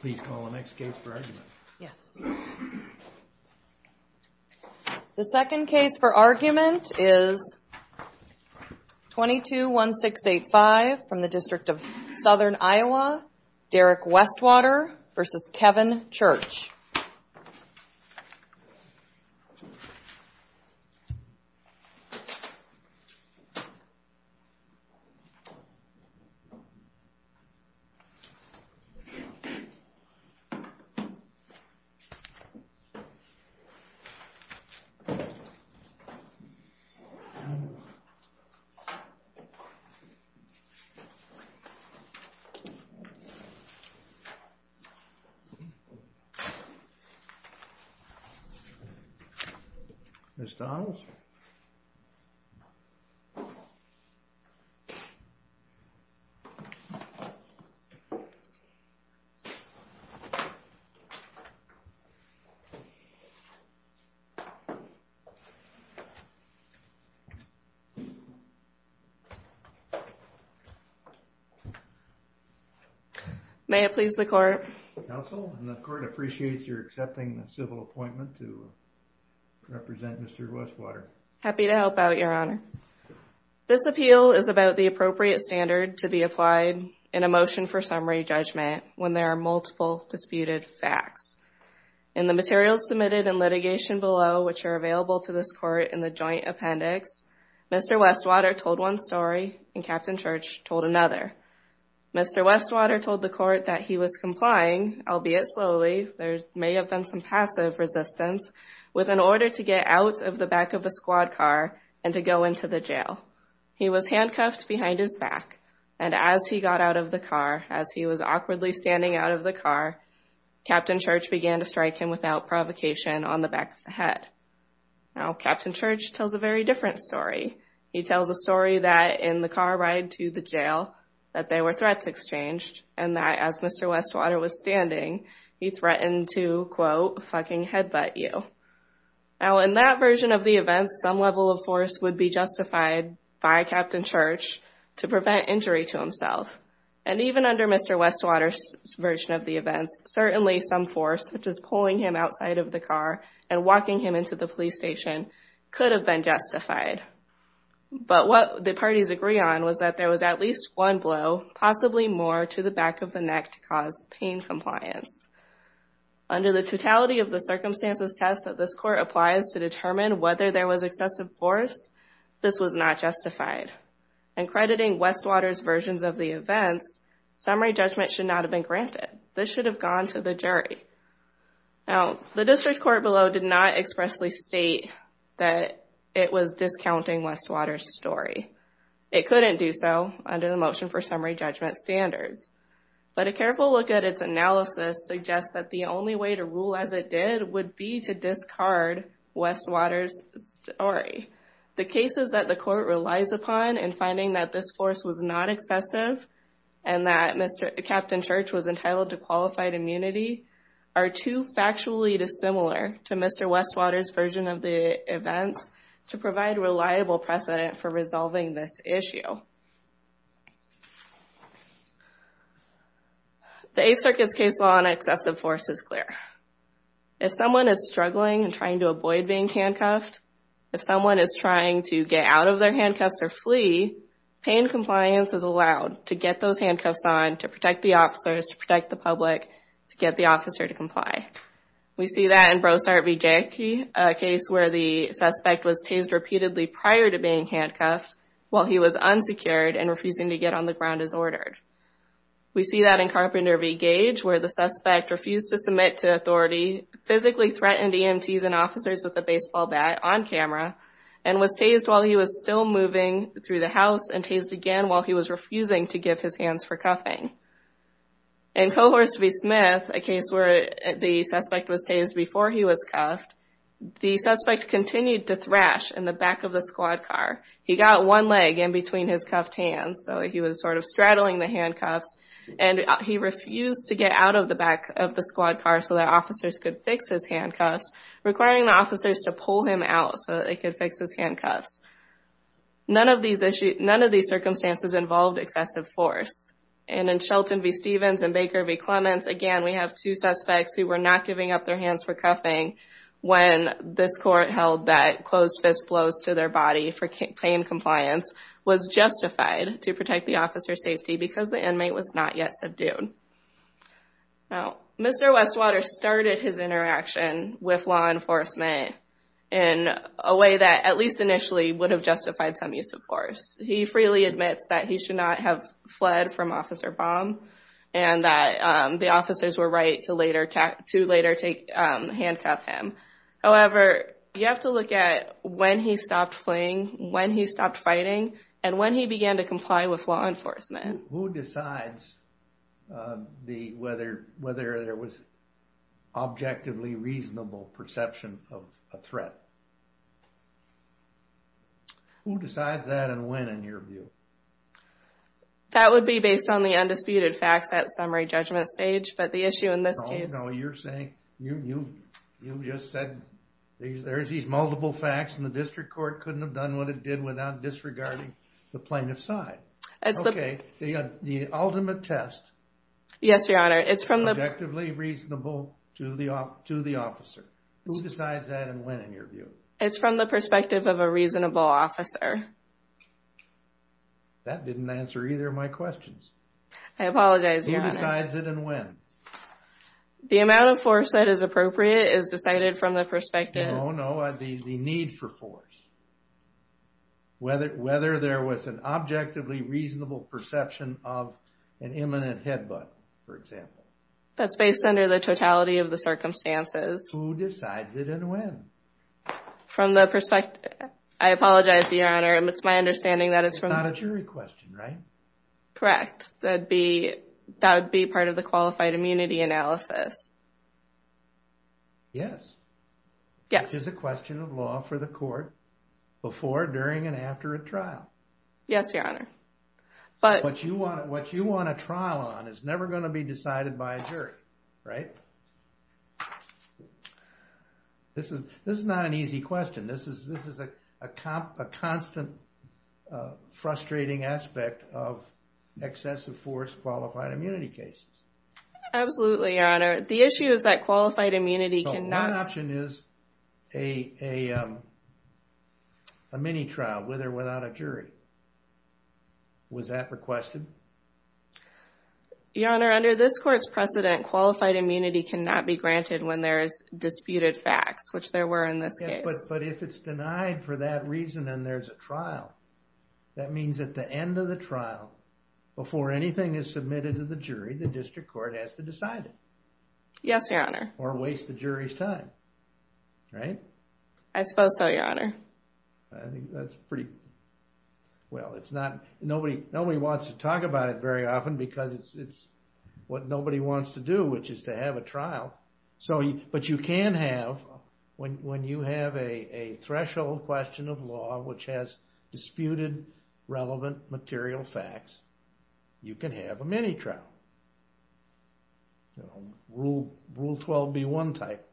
Please call the next case for argument. Yes. The second case for argument is 22-1685 from the District of Southern Iowa. Derek Westwater v. Kevin Church Please call the next case for argument. May it please the Court. Counsel, the Court appreciates your accepting the civil appointment to represent Mr. Westwater. Happy to help out, Your Honor. This appeal is about the appropriate standard to be applied in a motion for summary judgment when there are multiple disputed facts. In the materials submitted in litigation below, which are available to this Court in the joint appendix, Mr. Westwater told one story and Captain Church told another. Mr. Westwater told the Court that he was complying, albeit slowly, there may have been some passive resistance, with an order to get out of the back of a squad car and to go into the jail. He was handcuffed behind his back and as he got out of the car, as he was awkwardly standing out of the car, Captain Church began to strike him without provocation on the back of the head. Now, Captain Church tells a very different story. He tells a story that in the car ride to the jail that there were threats exchanged and that as Mr. Westwater was standing, he threatened to, quote, fucking headbutt you. Now, in that version of the events, some level of force would be justified by Captain Church to prevent injury to himself. And even under Mr. Westwater's version of the events, certainly some force, such as pulling him outside of the car and walking him into the police station, could have been justified. But what the parties agree on was that there was at least one blow, possibly more, to the back of the neck to cause pain compliance. Under the totality of the circumstances test that this court applies to determine whether there was excessive force, this was not justified. And crediting Westwater's versions of the events, summary judgment should not have been granted. This should have gone to the jury. Now, the district court below did not expressly state that it was discounting Westwater's story. It couldn't do so under the motion for summary judgment standards. But a careful look at its analysis suggests that the only way to rule as it did would be to discard Westwater's story. The cases that the court relies upon in finding that this force was not excessive and that Captain Church was entitled to qualified immunity are too factually dissimilar to Mr. Westwater's version of the events to provide reliable precedent for resolving this issue. The Eighth Circuit's case law on excessive force is clear. If someone is struggling and trying to avoid being handcuffed, if someone is trying to get out of their handcuffs or flee, pain compliance is allowed to get those handcuffs on, to protect the officers, We see that in Brossart v. Jackie, a case where the suspect was tased repeatedly prior to being handcuffed while he was unsecured and refusing to get on the ground as ordered. We see that in Carpenter v. Gage, where the suspect refused to submit to authority, physically threatened EMTs and officers with a baseball bat on camera, and was tased while he was still moving through the house and tased again while he was refusing to give his hands for cuffing. In Cohorse v. Smith, a case where the suspect was tased before he was cuffed, the suspect continued to thrash in the back of the squad car. He got one leg in between his cuffed hands, so he was sort of straddling the handcuffs, and he refused to get out of the back of the squad car so that officers could fix his handcuffs, requiring the officers to pull him out so that they could fix his handcuffs. None of these circumstances involved excessive force, and in Shelton v. Stevens and Baker v. Clements, again, we have two suspects who were not giving up their hands for cuffing when this court held that closed fist blows to their body for claim compliance was justified to protect the officer's safety because the inmate was not yet subdued. Now, Mr. Westwater started his interaction with law enforcement in a way that at least initially would have justified some use of force. He freely admits that he should not have fled from Officer Baum and that the officers were right to later handcuff him. However, you have to look at when he stopped fleeing, when he stopped fighting, and when he began to comply with law enforcement. Who decides whether there was objectively reasonable perception of a threat? Who decides that and when, in your view? That would be based on the undisputed facts at summary judgment stage, but the issue in this case... No, no, you're saying, you just said there's these multiple facts and the district court couldn't have done what it did without disregarding the plaintiff's side. Okay, the ultimate test... Yes, Your Honor, it's from the... It's from the perspective of a reasonable officer. That didn't answer either of my questions. I apologize, Your Honor. Who decides it and when? The amount of force that is appropriate is decided from the perspective... No, no, the need for force. Whether there was an objectively reasonable perception of an imminent headbutt, for example. That's based under the totality of the circumstances. Who decides it and when? From the perspective... I apologize, Your Honor. It's my understanding that it's from... It's not a jury question, right? Correct. That would be part of the qualified immunity analysis. Yes. Yes. Which is a question of law for the court before, during, and after a trial. Yes, Your Honor. What you want a trial on is never going to be decided by a jury, right? This is not an easy question. This is a constant frustrating aspect of excessive force qualified immunity cases. Absolutely, Your Honor. The issue is that qualified immunity cannot... a mini-trial with or without a jury. Was that requested? Your Honor, under this court's precedent, qualified immunity cannot be granted when there is disputed facts, which there were in this case. Yes, but if it's denied for that reason and there's a trial, that means at the end of the trial, before anything is submitted to the jury, the district court has to decide it. Yes, Your Honor. Or waste the jury's time, right? I suppose so, Your Honor. I think that's pretty... Well, it's not... Nobody wants to talk about it very often because it's what nobody wants to do, which is to have a trial. But you can have... When you have a threshold question of law which has disputed relevant material facts, you can have a mini-trial. Rule 12B1 type.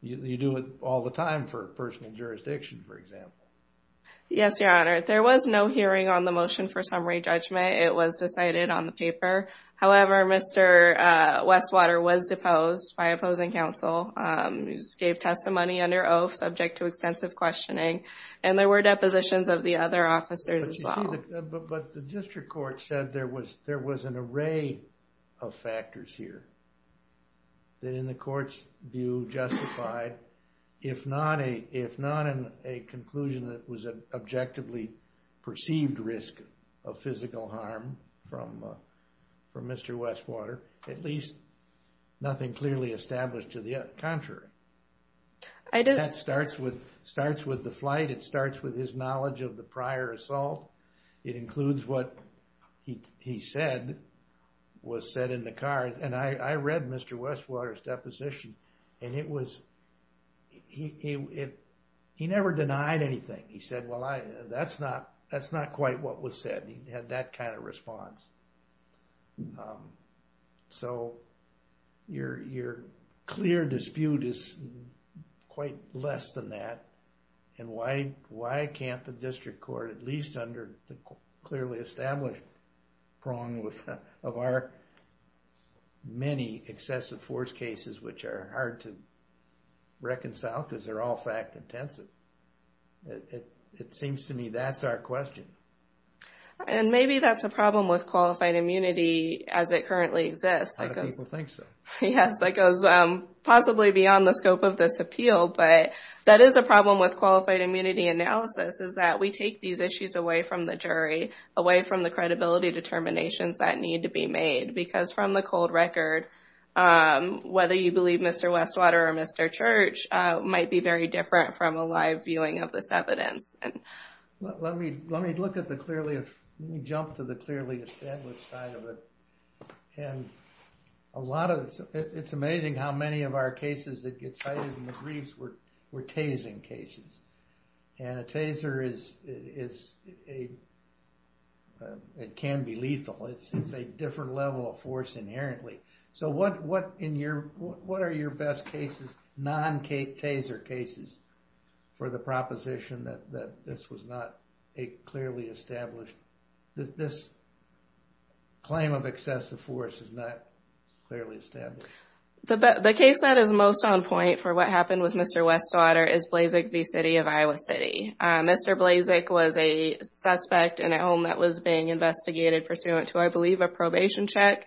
You do it all the time for personal jurisdiction, for example. Yes, Your Honor. There was no hearing on the motion for summary judgment. It was decided on the paper. However, Mr. Westwater was deposed by opposing counsel. He gave testimony under oath subject to extensive questioning. And there were depositions of the other officers as well. But the district court said there was an array of factors here that in the court's view justified, if not in a conclusion that was an objectively perceived risk of physical harm from Mr. Westwater, at least nothing clearly established to the contrary. That starts with the flight. It starts with his knowledge of the prior assault. It includes what he said was said in the car. And I read Mr. Westwater's deposition. And it was... He never denied anything. He said, well, that's not quite what was said. He had that kind of response. So your clear dispute is quite less than that. And why can't the district court, at least under the clearly established prong of our many excessive force cases, which are hard to reconcile because they're all fact-intensive. It seems to me that's our question. And maybe that's a problem with qualified immunity as it currently exists. A lot of people think so. Yes, that goes possibly beyond the scope of this appeal. But that is a problem with qualified immunity analysis is that we take these issues away from the jury, away from the credibility determinations that need to be made. Because from the cold record, whether you believe Mr. Westwater or Mr. Church might be very different from a live viewing of this evidence. Let me jump to the clearly established side of it. And a lot of it's amazing how many of our cases that get cited in the briefs were tasing cases. And a taser is a, it can be lethal. It's a different level of force inherently. So what are your best cases, non-taser cases, for the proposition that this was not a clearly established, that this claim of excessive force is not clearly established? The case that is most on point for what happened with Mr. Westwater is Blazick v. City of Iowa City. Mr. Blazick was a suspect in a home that was being investigated pursuant to, I believe, a probation check.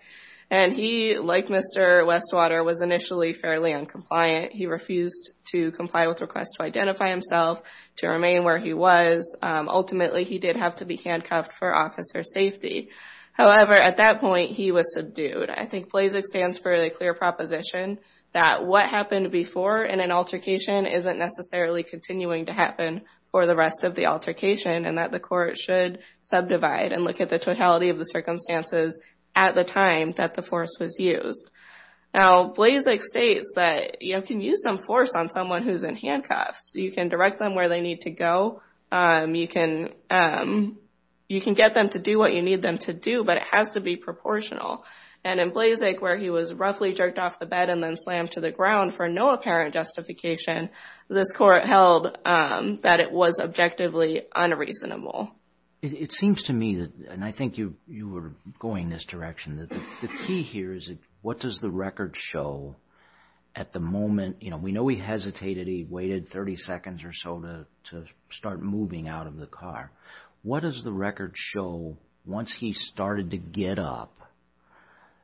And he, like Mr. Westwater, was initially fairly uncompliant. He refused to comply with requests to identify himself, to remain where he was. Ultimately, he did have to be handcuffed for officer safety. However, at that point, he was subdued. I think Blazick stands for the clear proposition that what happened before in an altercation isn't necessarily continuing to happen for the rest of the altercation and that the court should subdivide and look at the totality of the circumstances at the time that the force was used. Now, Blazick states that you can use some force on someone who's in handcuffs. You can direct them where they need to go. You can get them to do what you need them to do, but it has to be proportional. And in Blazick, where he was roughly jerked off the bed and then slammed to the ground for no apparent justification, this court held that it was objectively unreasonable. It seems to me, and I think you were going in this direction, that the key here is what does the record show at the moment? We know he hesitated. He waited 30 seconds or so to start moving out of the car. What does the record show once he started to get up?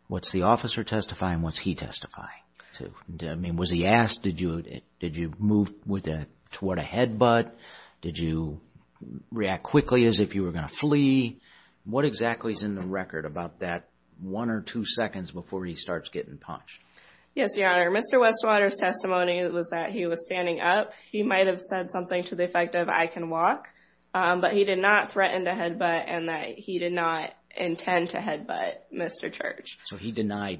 What's the officer testifying and what's he testifying to? I mean, was he asked, did you move toward a headbutt? Did you react quickly as if you were going to flee? What exactly is in the record about that one or two seconds before he starts getting punched? Yes, Your Honor. Mr. Westwater's testimony was that he was standing up. He might have said something to the effect of I can walk, but he did not threaten to headbutt and that he did not intend to headbutt Mr. Church. So he denied?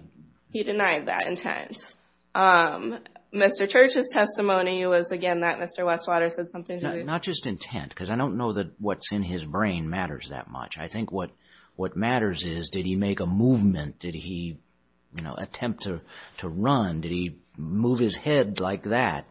He denied that intent. Mr. Church's testimony was, again, that Mr. Westwater said something to him. Not just intent, because I don't know that what's in his brain matters that much. I think what matters is did he make a movement? Did he attempt to run? Did he move his head like that?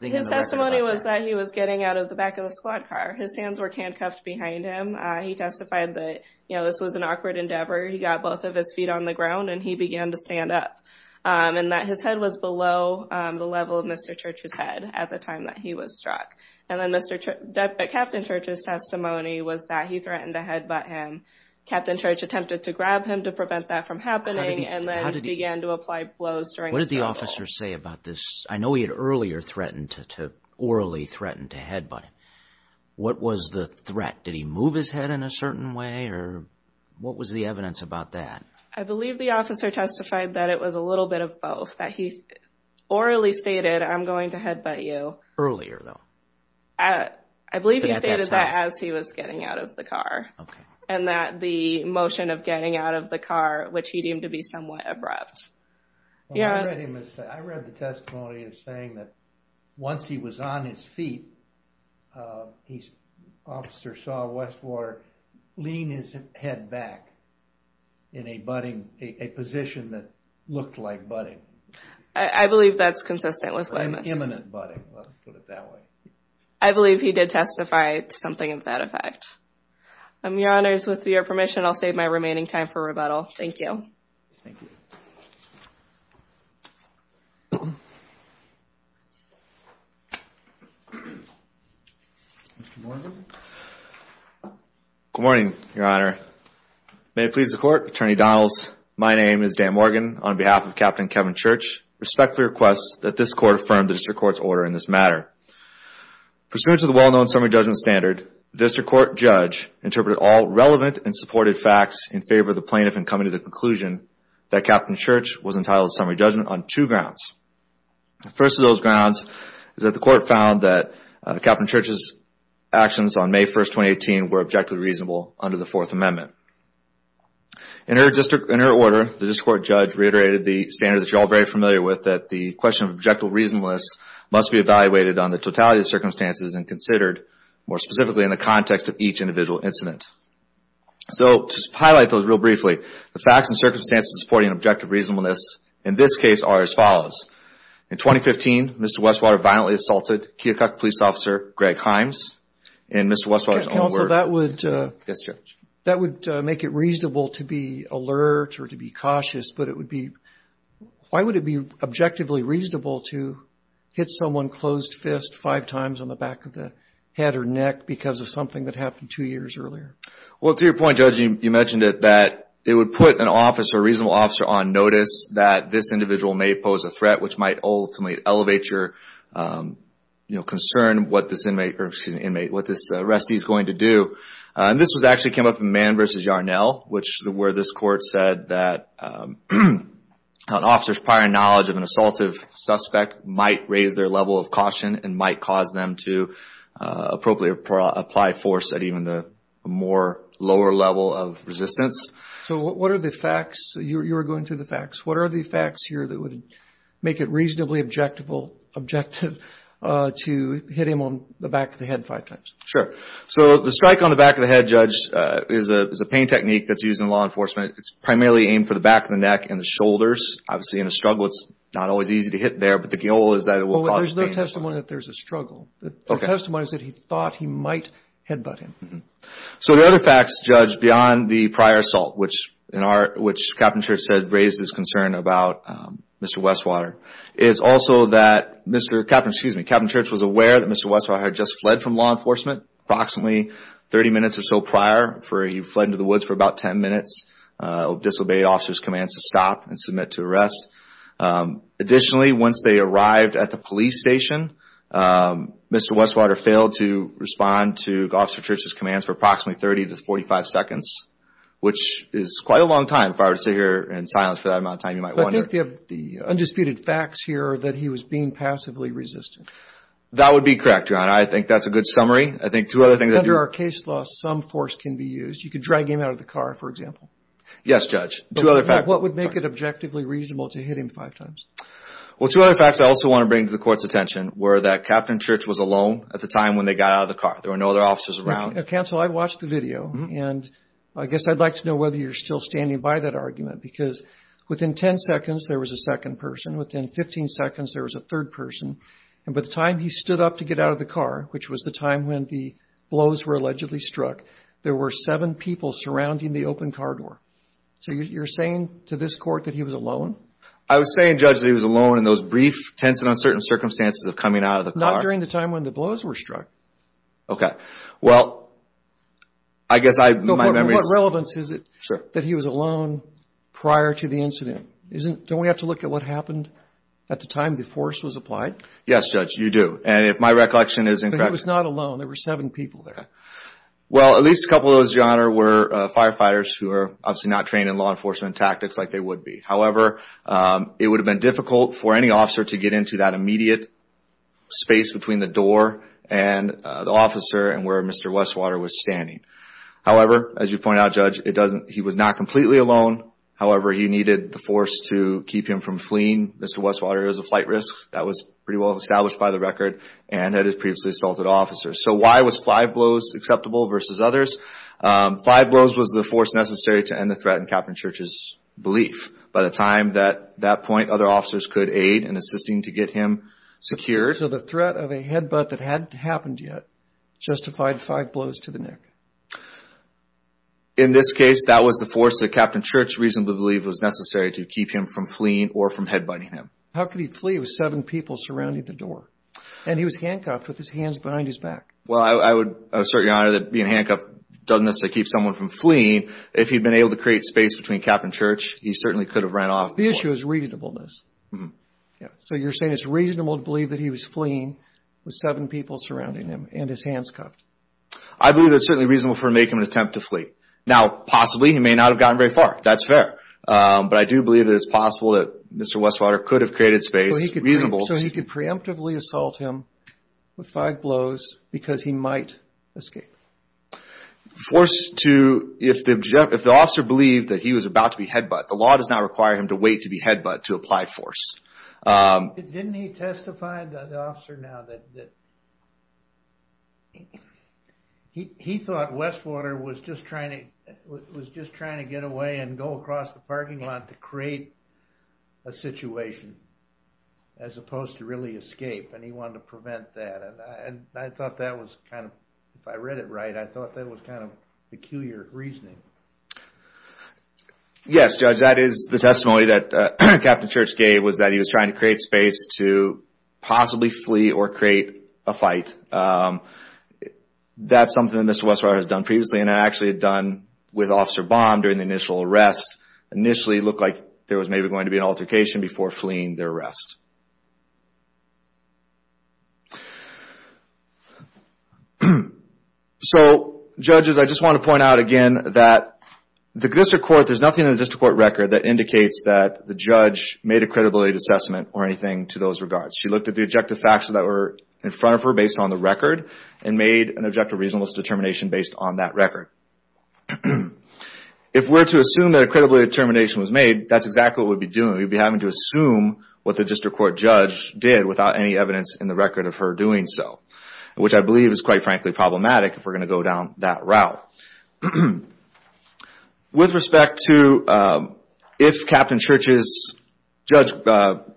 His testimony was that he was getting out of the back of the squad car. His hands were handcuffed behind him. He testified that this was an awkward endeavor. He got both of his feet on the ground and he began to stand up and that his head was below the level of Mr. Church's head at the time that he was struck. And then Captain Church's testimony was that he threatened to headbutt him. And Captain Church attempted to grab him to prevent that from happening and then began to apply blows during the struggle. What did the officer say about this? I know he had earlier threatened to, orally threatened to headbutt him. What was the threat? Did he move his head in a certain way or what was the evidence about that? I believe the officer testified that it was a little bit of both, that he orally stated, I'm going to headbutt you. Earlier though? I believe he stated that as he was getting out of the car. Okay. And that the motion of getting out of the car, which he deemed to be somewhat abrupt. I read the testimony as saying that once he was on his feet, the officer saw Westwater lean his head back in a budding, a position that looked like budding. I believe that's consistent with what he said. Imminent budding, let's put it that way. I believe he did testify to something of that effect. Your Honors, with your permission, I'll save my remaining time for rebuttal. Thank you. Thank you. Good morning, Your Honor. May it please the Court, Attorney Donalds, my name is Dan Morgan. On behalf of Captain Kevin Church, I respectfully request that this Court affirm the District Court's order in this matter. Pursuant to the well-known summary judgment standard, the District Court judge interpreted all relevant and supported facts in favor of the plaintiff in coming to the conclusion that Captain Church was entitled to summary judgment on two grounds. The first of those grounds is that the Court found that Captain Church's actions on May 1, 2018 were objectively reasonable under the Fourth Amendment. In her order, the District Court judge reiterated the standard that you're all very familiar with, that the question of objective reasonableness must be evaluated on the totality of the circumstances and considered more specifically in the context of each individual incident. So, to highlight those real briefly, the facts and circumstances supporting objective reasonableness in this case are as follows. In 2015, Mr. Westwater violently assaulted Keokuk Police Officer Greg Himes. And Mr. Westwater's own words... Counsel, that would... Yes, Judge. That would make it reasonable to be alert or to be cautious, but it would be... Why would it be objectively reasonable to hit someone closed fist five times on the back of the head or neck because of something that happened two years earlier? Well, to your point, Judge, you mentioned that it would put an officer, a reasonable officer, on notice that this individual may pose a threat, which might ultimately elevate your, you know, concern what this inmate or, excuse me, inmate, And this actually came up in Mann v. Yarnell, where this court said that an officer's prior knowledge of an assaultive suspect might raise their level of caution and might cause them to appropriately apply force at even the more lower level of resistance. So, what are the facts? You were going through the facts. What are the facts here that would make it reasonably objective to hit him on the back of the head five times? Sure. So, the strike on the back of the head, Judge, is a pain technique that's used in law enforcement. It's primarily aimed for the back of the neck and the shoulders. Obviously, in a struggle, it's not always easy to hit there, but the goal is that it will cause pain. Well, there's no testimony that there's a struggle. The testimony is that he thought he might headbutt him. So, the other facts, Judge, beyond the prior assault, which Captain Church said raised his concern about Mr. Westwater, is also that Mr. Captain... Excuse me, Captain Church was aware that Mr. Westwater had just fled from law enforcement approximately 30 minutes or so prior. He fled into the woods for about 10 minutes, disobeyed officers' commands to stop and submit to arrest. Additionally, once they arrived at the police station, Mr. Westwater failed to respond to Officer Church's commands for approximately 30 to 45 seconds, which is quite a long time if I were to sit here in silence for that amount of time, you might wonder. But I think you have the undisputed facts here that he was being passively resistant. That would be correct, Your Honor. I think that's a good summary. Under our case law, some force can be used. You could drag him out of the car, for example. Yes, Judge. What would make it objectively reasonable to hit him five times? Well, two other facts I also want to bring to the Court's attention were that Captain Church was alone at the time when they got out of the car. There were no other officers around. Counsel, I watched the video, and I guess I'd like to know whether you're still standing by that argument because within 10 seconds there was a second person, within 15 seconds there was a third person, and by the time he stood up to get out of the car, which was the time when the blows were allegedly struck, there were seven people surrounding the open car door. So you're saying to this Court that he was alone? I was saying, Judge, that he was alone in those brief, tense and uncertain circumstances of coming out of the car. Not during the time when the blows were struck. Okay. Well, I guess my memory is... What relevance is it that he was alone prior to the incident? Don't we have to look at what happened at the time the force was applied? Yes, Judge, you do. And if my recollection is incorrect... But he was not alone. There were seven people there. Well, at least a couple of those, Your Honor, were firefighters who were obviously not trained in law enforcement tactics like they would be. However, it would have been difficult for any officer to get into that immediate space between the door and the officer and where Mr. Westwater was standing. However, as you point out, Judge, he was not completely alone. However, he needed the force to keep him from fleeing. Mr. Westwater is a flight risk. That was pretty well established by the record and had his previously assaulted officers. So why was five blows acceptable versus others? Five blows was the force necessary to end the threat in Captain Church's belief. By the time at that point, other officers could aid in assisting to get him secured. So the threat of a headbutt that hadn't happened yet justified five blows to the neck. In this case, that was the force that Captain Church reasonably believed was necessary to keep him from fleeing or from headbutting him. How could he flee with seven people surrounding the door? And he was handcuffed with his hands behind his back. Well, I would assert, Your Honor, that being handcuffed doesn't necessarily keep someone from fleeing. If he'd been able to create space between Captain Church, he certainly could have ran off. The issue is reasonableness. So you're saying it's reasonable to believe that he was fleeing with seven people surrounding him and his hands cuffed. I believe it's certainly reasonable for him to make an attempt to flee. Now, possibly he may not have gotten very far. That's fair. But I do believe that it's possible that Mr. Westwater could have created space. So he could preemptively assault him with five blows because he might escape. If the officer believed that he was about to be headbutt, the law does not require him to wait to be headbutt to apply force. Didn't he testify, the officer now, that he thought Westwater was just trying to get away and go across the parking lot to create a situation as opposed to really escape, and he wanted to prevent that. And I thought that was kind of, if I read it right, I thought that was kind of peculiar reasoning. Yes, Judge, that is the testimony that Captain Church gave was that he was trying to create space to possibly flee or create a fight. That's something that Mr. Westwater has done previously, and actually had done with Officer Baum during the initial arrest. Initially, it looked like there was maybe going to be an altercation before fleeing their arrest. So, judges, I just want to point out again that the district court, there's nothing in the district court record that indicates that the judge made a credibility assessment or anything to those regards. She looked at the objective facts that were in front of her based on the record and made an objective reasonableness determination based on that record. If we're to assume that a credibility determination was made, that's exactly what we'd be doing. We'd be having to assume what the district court judge did without any evidence in the record of her doing so, which I believe is quite frankly problematic if we're going to go down that route. With respect to if Captain Church's judge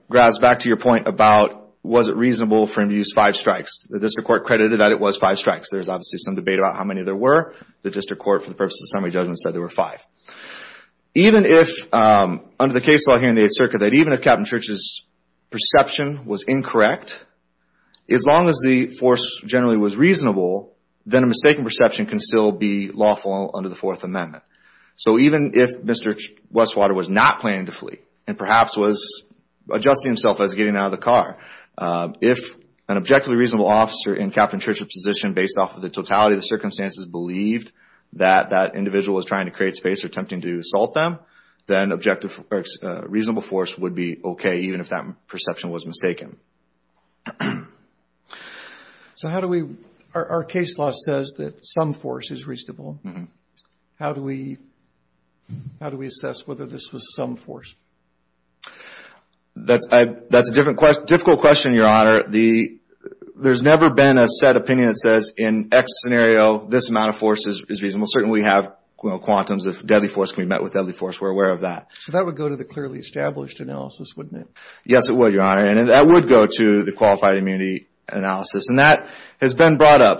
grabs back to your point about was it reasonable for him to use five strikes, the district court credited that it was five strikes. There's obviously some debate about how many there were. The district court, for the purpose of the summary judgment, said there were five. Even if, under the case law here in the Eighth Circuit, that even if Captain Church's perception was incorrect, as long as the force generally was reasonable, then a mistaken perception can still be lawful under the Fourth Amendment. Even if Mr. Westwater was not planning to flee and perhaps was adjusting himself as getting out of the car, if an objectively reasonable officer in Captain Church's position, based off of the totality of the circumstances, believed that that individual was trying to create space or attempting to assault them, then a reasonable force would be okay even if that perception was mistaken. Our case law says that some force is reasonable. How do we assess whether this was some force? That's a difficult question, Your Honor. There's never been a set opinion that says, in X scenario, this amount of force is reasonable. Certainly we have quantums. If deadly force can be met with deadly force, we're aware of that. That would go to the clearly established analysis, wouldn't it? Yes, it would, Your Honor. That would go to the qualified immunity analysis. That has been brought up.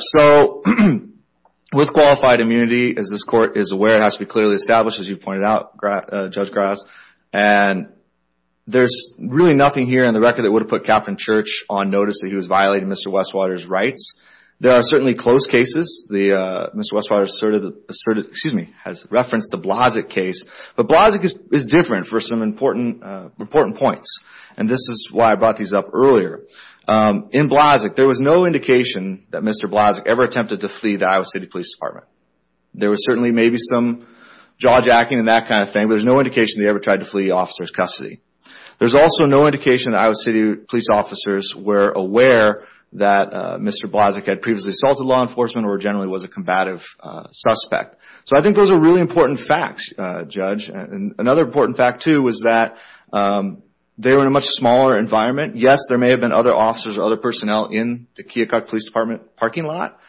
With qualified immunity, as this Court is aware, it has to be clearly established, as you pointed out, Judge Gras. There's really nothing here in the record that would have put Captain Church on notice that he was violating Mr. Westwater's rights. There are certainly close cases. Mr. Westwater has referenced the Blasek case. But Blasek is different for some important points. This is why I brought these up earlier. In Blasek, there was no indication that Mr. Blasek ever attempted to flee the Iowa City Police Department. There was certainly maybe some jawjacking and that kind of thing, but there's no indication that he ever tried to flee officer's custody. There's also no indication that Iowa City police officers were aware that Mr. Blasek had previously assaulted law enforcement or generally was a combative suspect. I think those are really important facts, Judge. Another important fact, too, was that they were in a much smaller environment. Yes, there may have been other officers or other personnel in the Keokuk Police Department parking lot,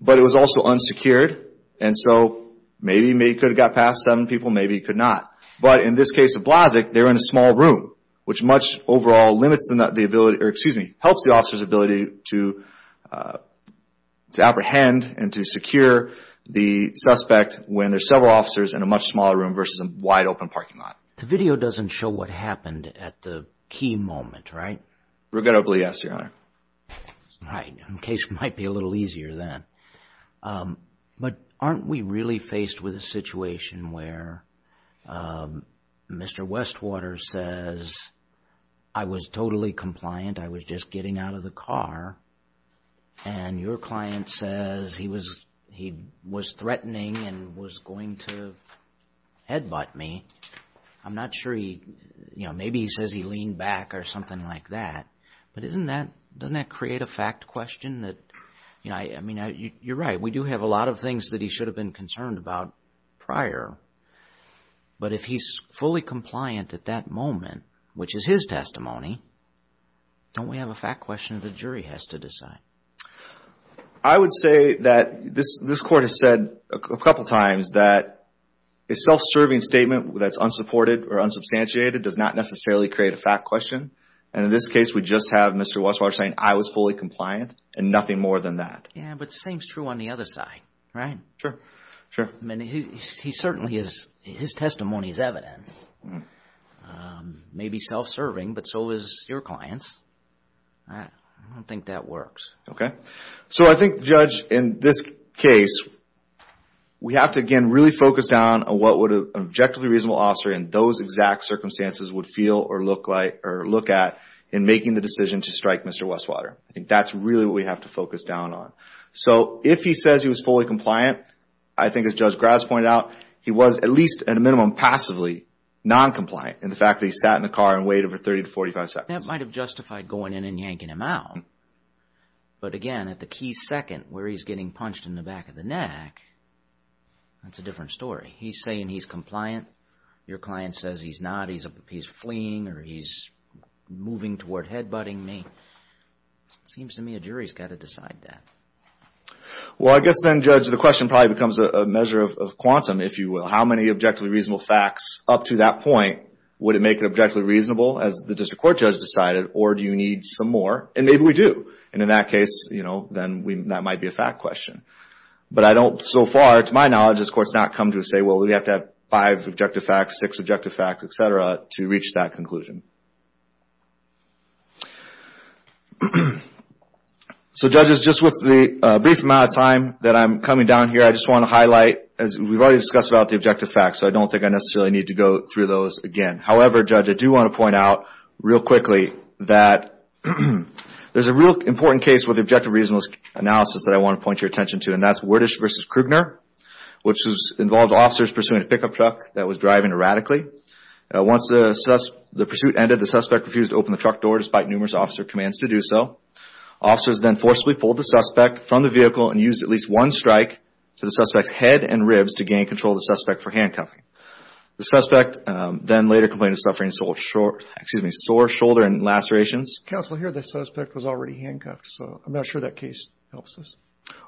but it was also unsecured. So maybe he could have got past seven people, maybe he could not. But in this case of Blasek, they were in a small room, which much overall helps the officer's ability to apprehend and to secure the suspect when there are several officers in a much smaller room versus a wide open parking lot. The video doesn't show what happened at the key moment, right? Regrettably, yes, Your Honor. Right. In case it might be a little easier then. But aren't we really faced with a situation where Mr. Westwater says, I was totally compliant, I was just getting out of the car, and your client says he was threatening and was going to headbutt me. I'm not sure he, you know, maybe he says he leaned back or something like that. But doesn't that create a fact question that, you know, I mean, you're right. We do have a lot of things that he should have been concerned about prior. But if he's fully compliant at that moment, which is his testimony, don't we have a fact question that the jury has to decide? I would say that this Court has said a couple times that a self-serving statement that's unsupported or unsubstantiated does not necessarily create a fact question. And in this case, we just have Mr. Westwater saying, I was fully compliant and nothing more than that. Yeah, but the same is true on the other side, right? Sure. Sure. I mean, he certainly is, his testimony is evidence. Maybe self-serving, but so is your client's. I don't think that works. Okay. So I think, Judge, in this case, we have to, again, really focus down on what would an objectively reasonable officer in those exact circumstances would feel or look at in making the decision to strike Mr. Westwater. I think that's really what we have to focus down on. So if he says he was fully compliant, I think as Judge Graves pointed out, he was at least, at a minimum, passively non-compliant in the fact that he sat in the car and waited for 30 to 45 seconds. That might have justified going in and yanking him out. But again, at the key second where he's getting punched in the back of the neck, that's a different story. He's saying he's compliant. Your client says he's not. He's fleeing or he's moving toward headbutting me. It seems to me a jury's got to decide that. Well, I guess then, Judge, the question probably becomes a measure of quantum, if you will. How many objectively reasonable facts up to that point, would it make it objectively reasonable, as the district court judge decided, or do you need some more? And maybe we do. And in that case, then that might be a fact question. But so far, to my knowledge, this Court's not come to a say, well, we have to have five objective facts, six objective facts, et cetera, to reach that conclusion. So, Judges, just with the brief amount of time that I'm coming down here, I just want to highlight, as we've already discussed about the objective facts, so I don't think I necessarily need to go through those again. However, Judge, I do want to point out real quickly that there's a real important case with objective reasonable analysis that I want to point your attention to, and that's Wordish v. Krugner, which involved officers pursuing a pickup truck that was driving erratically. Once the pursuit ended, the suspect refused to open the truck door, despite numerous officer commands to do so. Officers then forcibly pulled the suspect from the vehicle and used at least one strike to the suspect's head and ribs to gain control of the suspect for handcuffing. The suspect then later complained of suffering sore shoulder and lacerations. Counsel, I hear the suspect was already handcuffed, so I'm not sure that case helps us.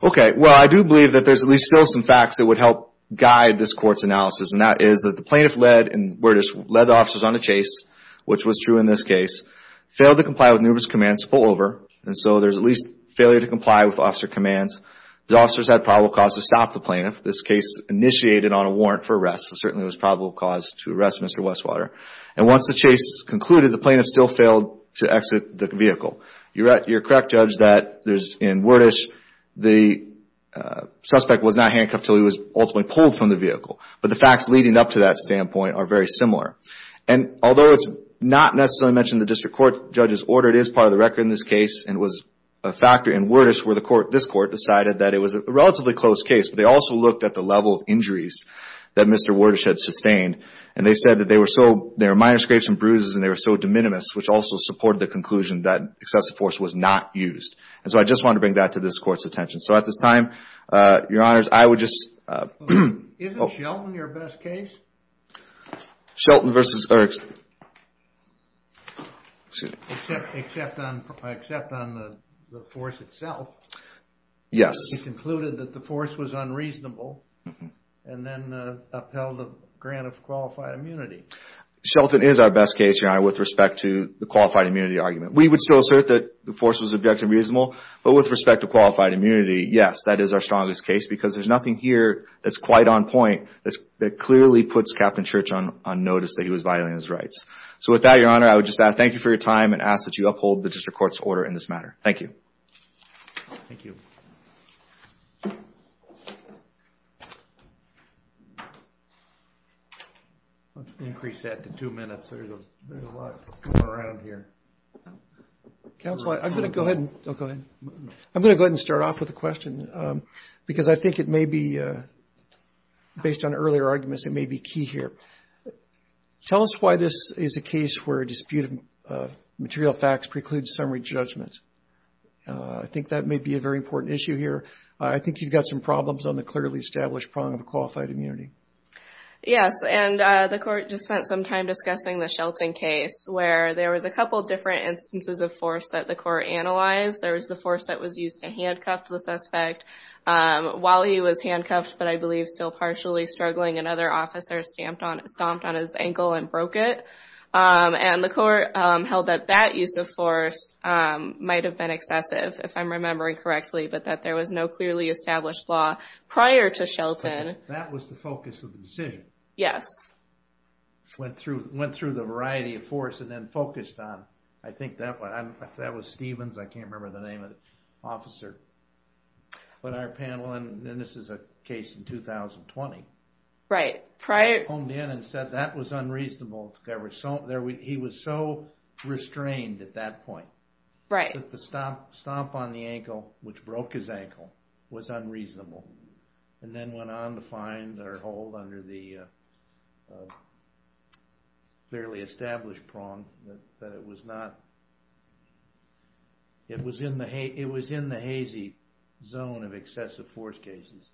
Okay, well, I do believe that there's at least still some facts that would help guide this Court's analysis, and that is that the plaintiff led the officers on a chase, which was true in this case, failed to comply with numerous commands to pull over, and so there's at least failure to comply with officer commands. The officers had probable cause to stop the plaintiff. This case initiated on a warrant for arrest, so certainly there was probable cause to arrest Mr. Westwater. And once the chase concluded, the plaintiff still failed to exit the vehicle. You're correct, Judge, that in Wordish, the suspect was not handcuffed until he was ultimately pulled from the vehicle, but the facts leading up to that standpoint are very similar. And although it's not necessarily mentioned in the district court judge's order, it is part of the record in this case, and it was a factor in Wordish where this Court decided that it was a relatively close case, but they also looked at the level of injuries that Mr. Wordish had sustained, and they said that they were minor scrapes and bruises and they were so de minimis, which also supported the conclusion that excessive force was not used. And so I just wanted to bring that to this Court's attention. So at this time, Your Honors, I would just – Isn't Shelton your best case? Shelton versus – Except on the force itself. Yes. He concluded that the force was unreasonable and then upheld the grant of qualified immunity. Shelton is our best case, Your Honor, with respect to the qualified immunity argument. We would still assert that the force was objective and reasonable, but with respect to qualified immunity, yes, that is our strongest case because there's nothing here that's quite on point that clearly puts Captain Church on notice that he was violating his rights. So with that, Your Honor, I would just thank you for your time and ask that you uphold the District Court's order in this matter. Thank you. Thank you. Increase that to two minutes. There's a lot going around here. Counsel, I'm going to go ahead and – I'm going to go ahead and start off with a question because I think it may be – based on earlier arguments, it may be key here. Tell us why this is a case where a dispute of material facts precludes summary judgment. I think that may be a very important issue here. I think you've got some problems on the clearly established prong of qualified immunity. Yes, and the Court just spent some time discussing the Shelton case where there was a couple different instances of force that the Court analyzed. There was the force that was used to handcuff the suspect while he was handcuffed, but I believe still partially struggling, and other officers stomped on his ankle and broke it. And the Court held that that use of force might have been excessive, if I'm remembering correctly, but that there was no clearly established law prior to Shelton. That was the focus of the decision? Yes. Went through the variety of force and then focused on – I think that was Stevens. I can't remember the name of the officer. But our panel – and this is a case in 2020. Right. Homed in and said that was unreasonable. He was so restrained at that point. Right. The stomp on the ankle, which broke his ankle, was unreasonable, and then went on to find or hold under the clearly established prong that it was not – it was in the hazy zone of excessive force cases.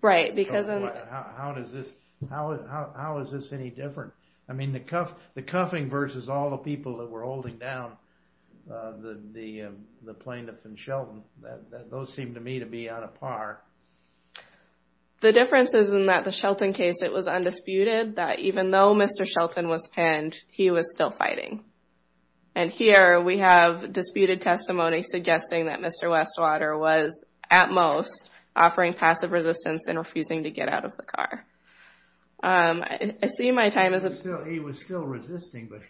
Right, because – How is this any different? I mean, the cuffing versus all the people that were holding down the plaintiff in Shelton, those seem to me to be on a par. The difference is in that the Shelton case, it was undisputed that even though Mr. Shelton was pinned, he was still fighting. And here we have disputed testimony suggesting that Mr. Westwater was, at most, offering passive resistance and refusing to get out of the car. I see my time as a – He was still resisting, but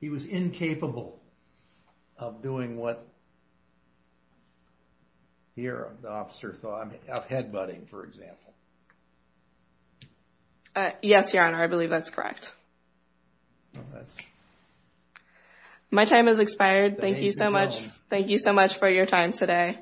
he was incapable of doing what, here, the officer thought, of headbutting, for example. Yes, Your Honor, I believe that's correct. My time has expired. Thank you so much. Thank you so much for your time today.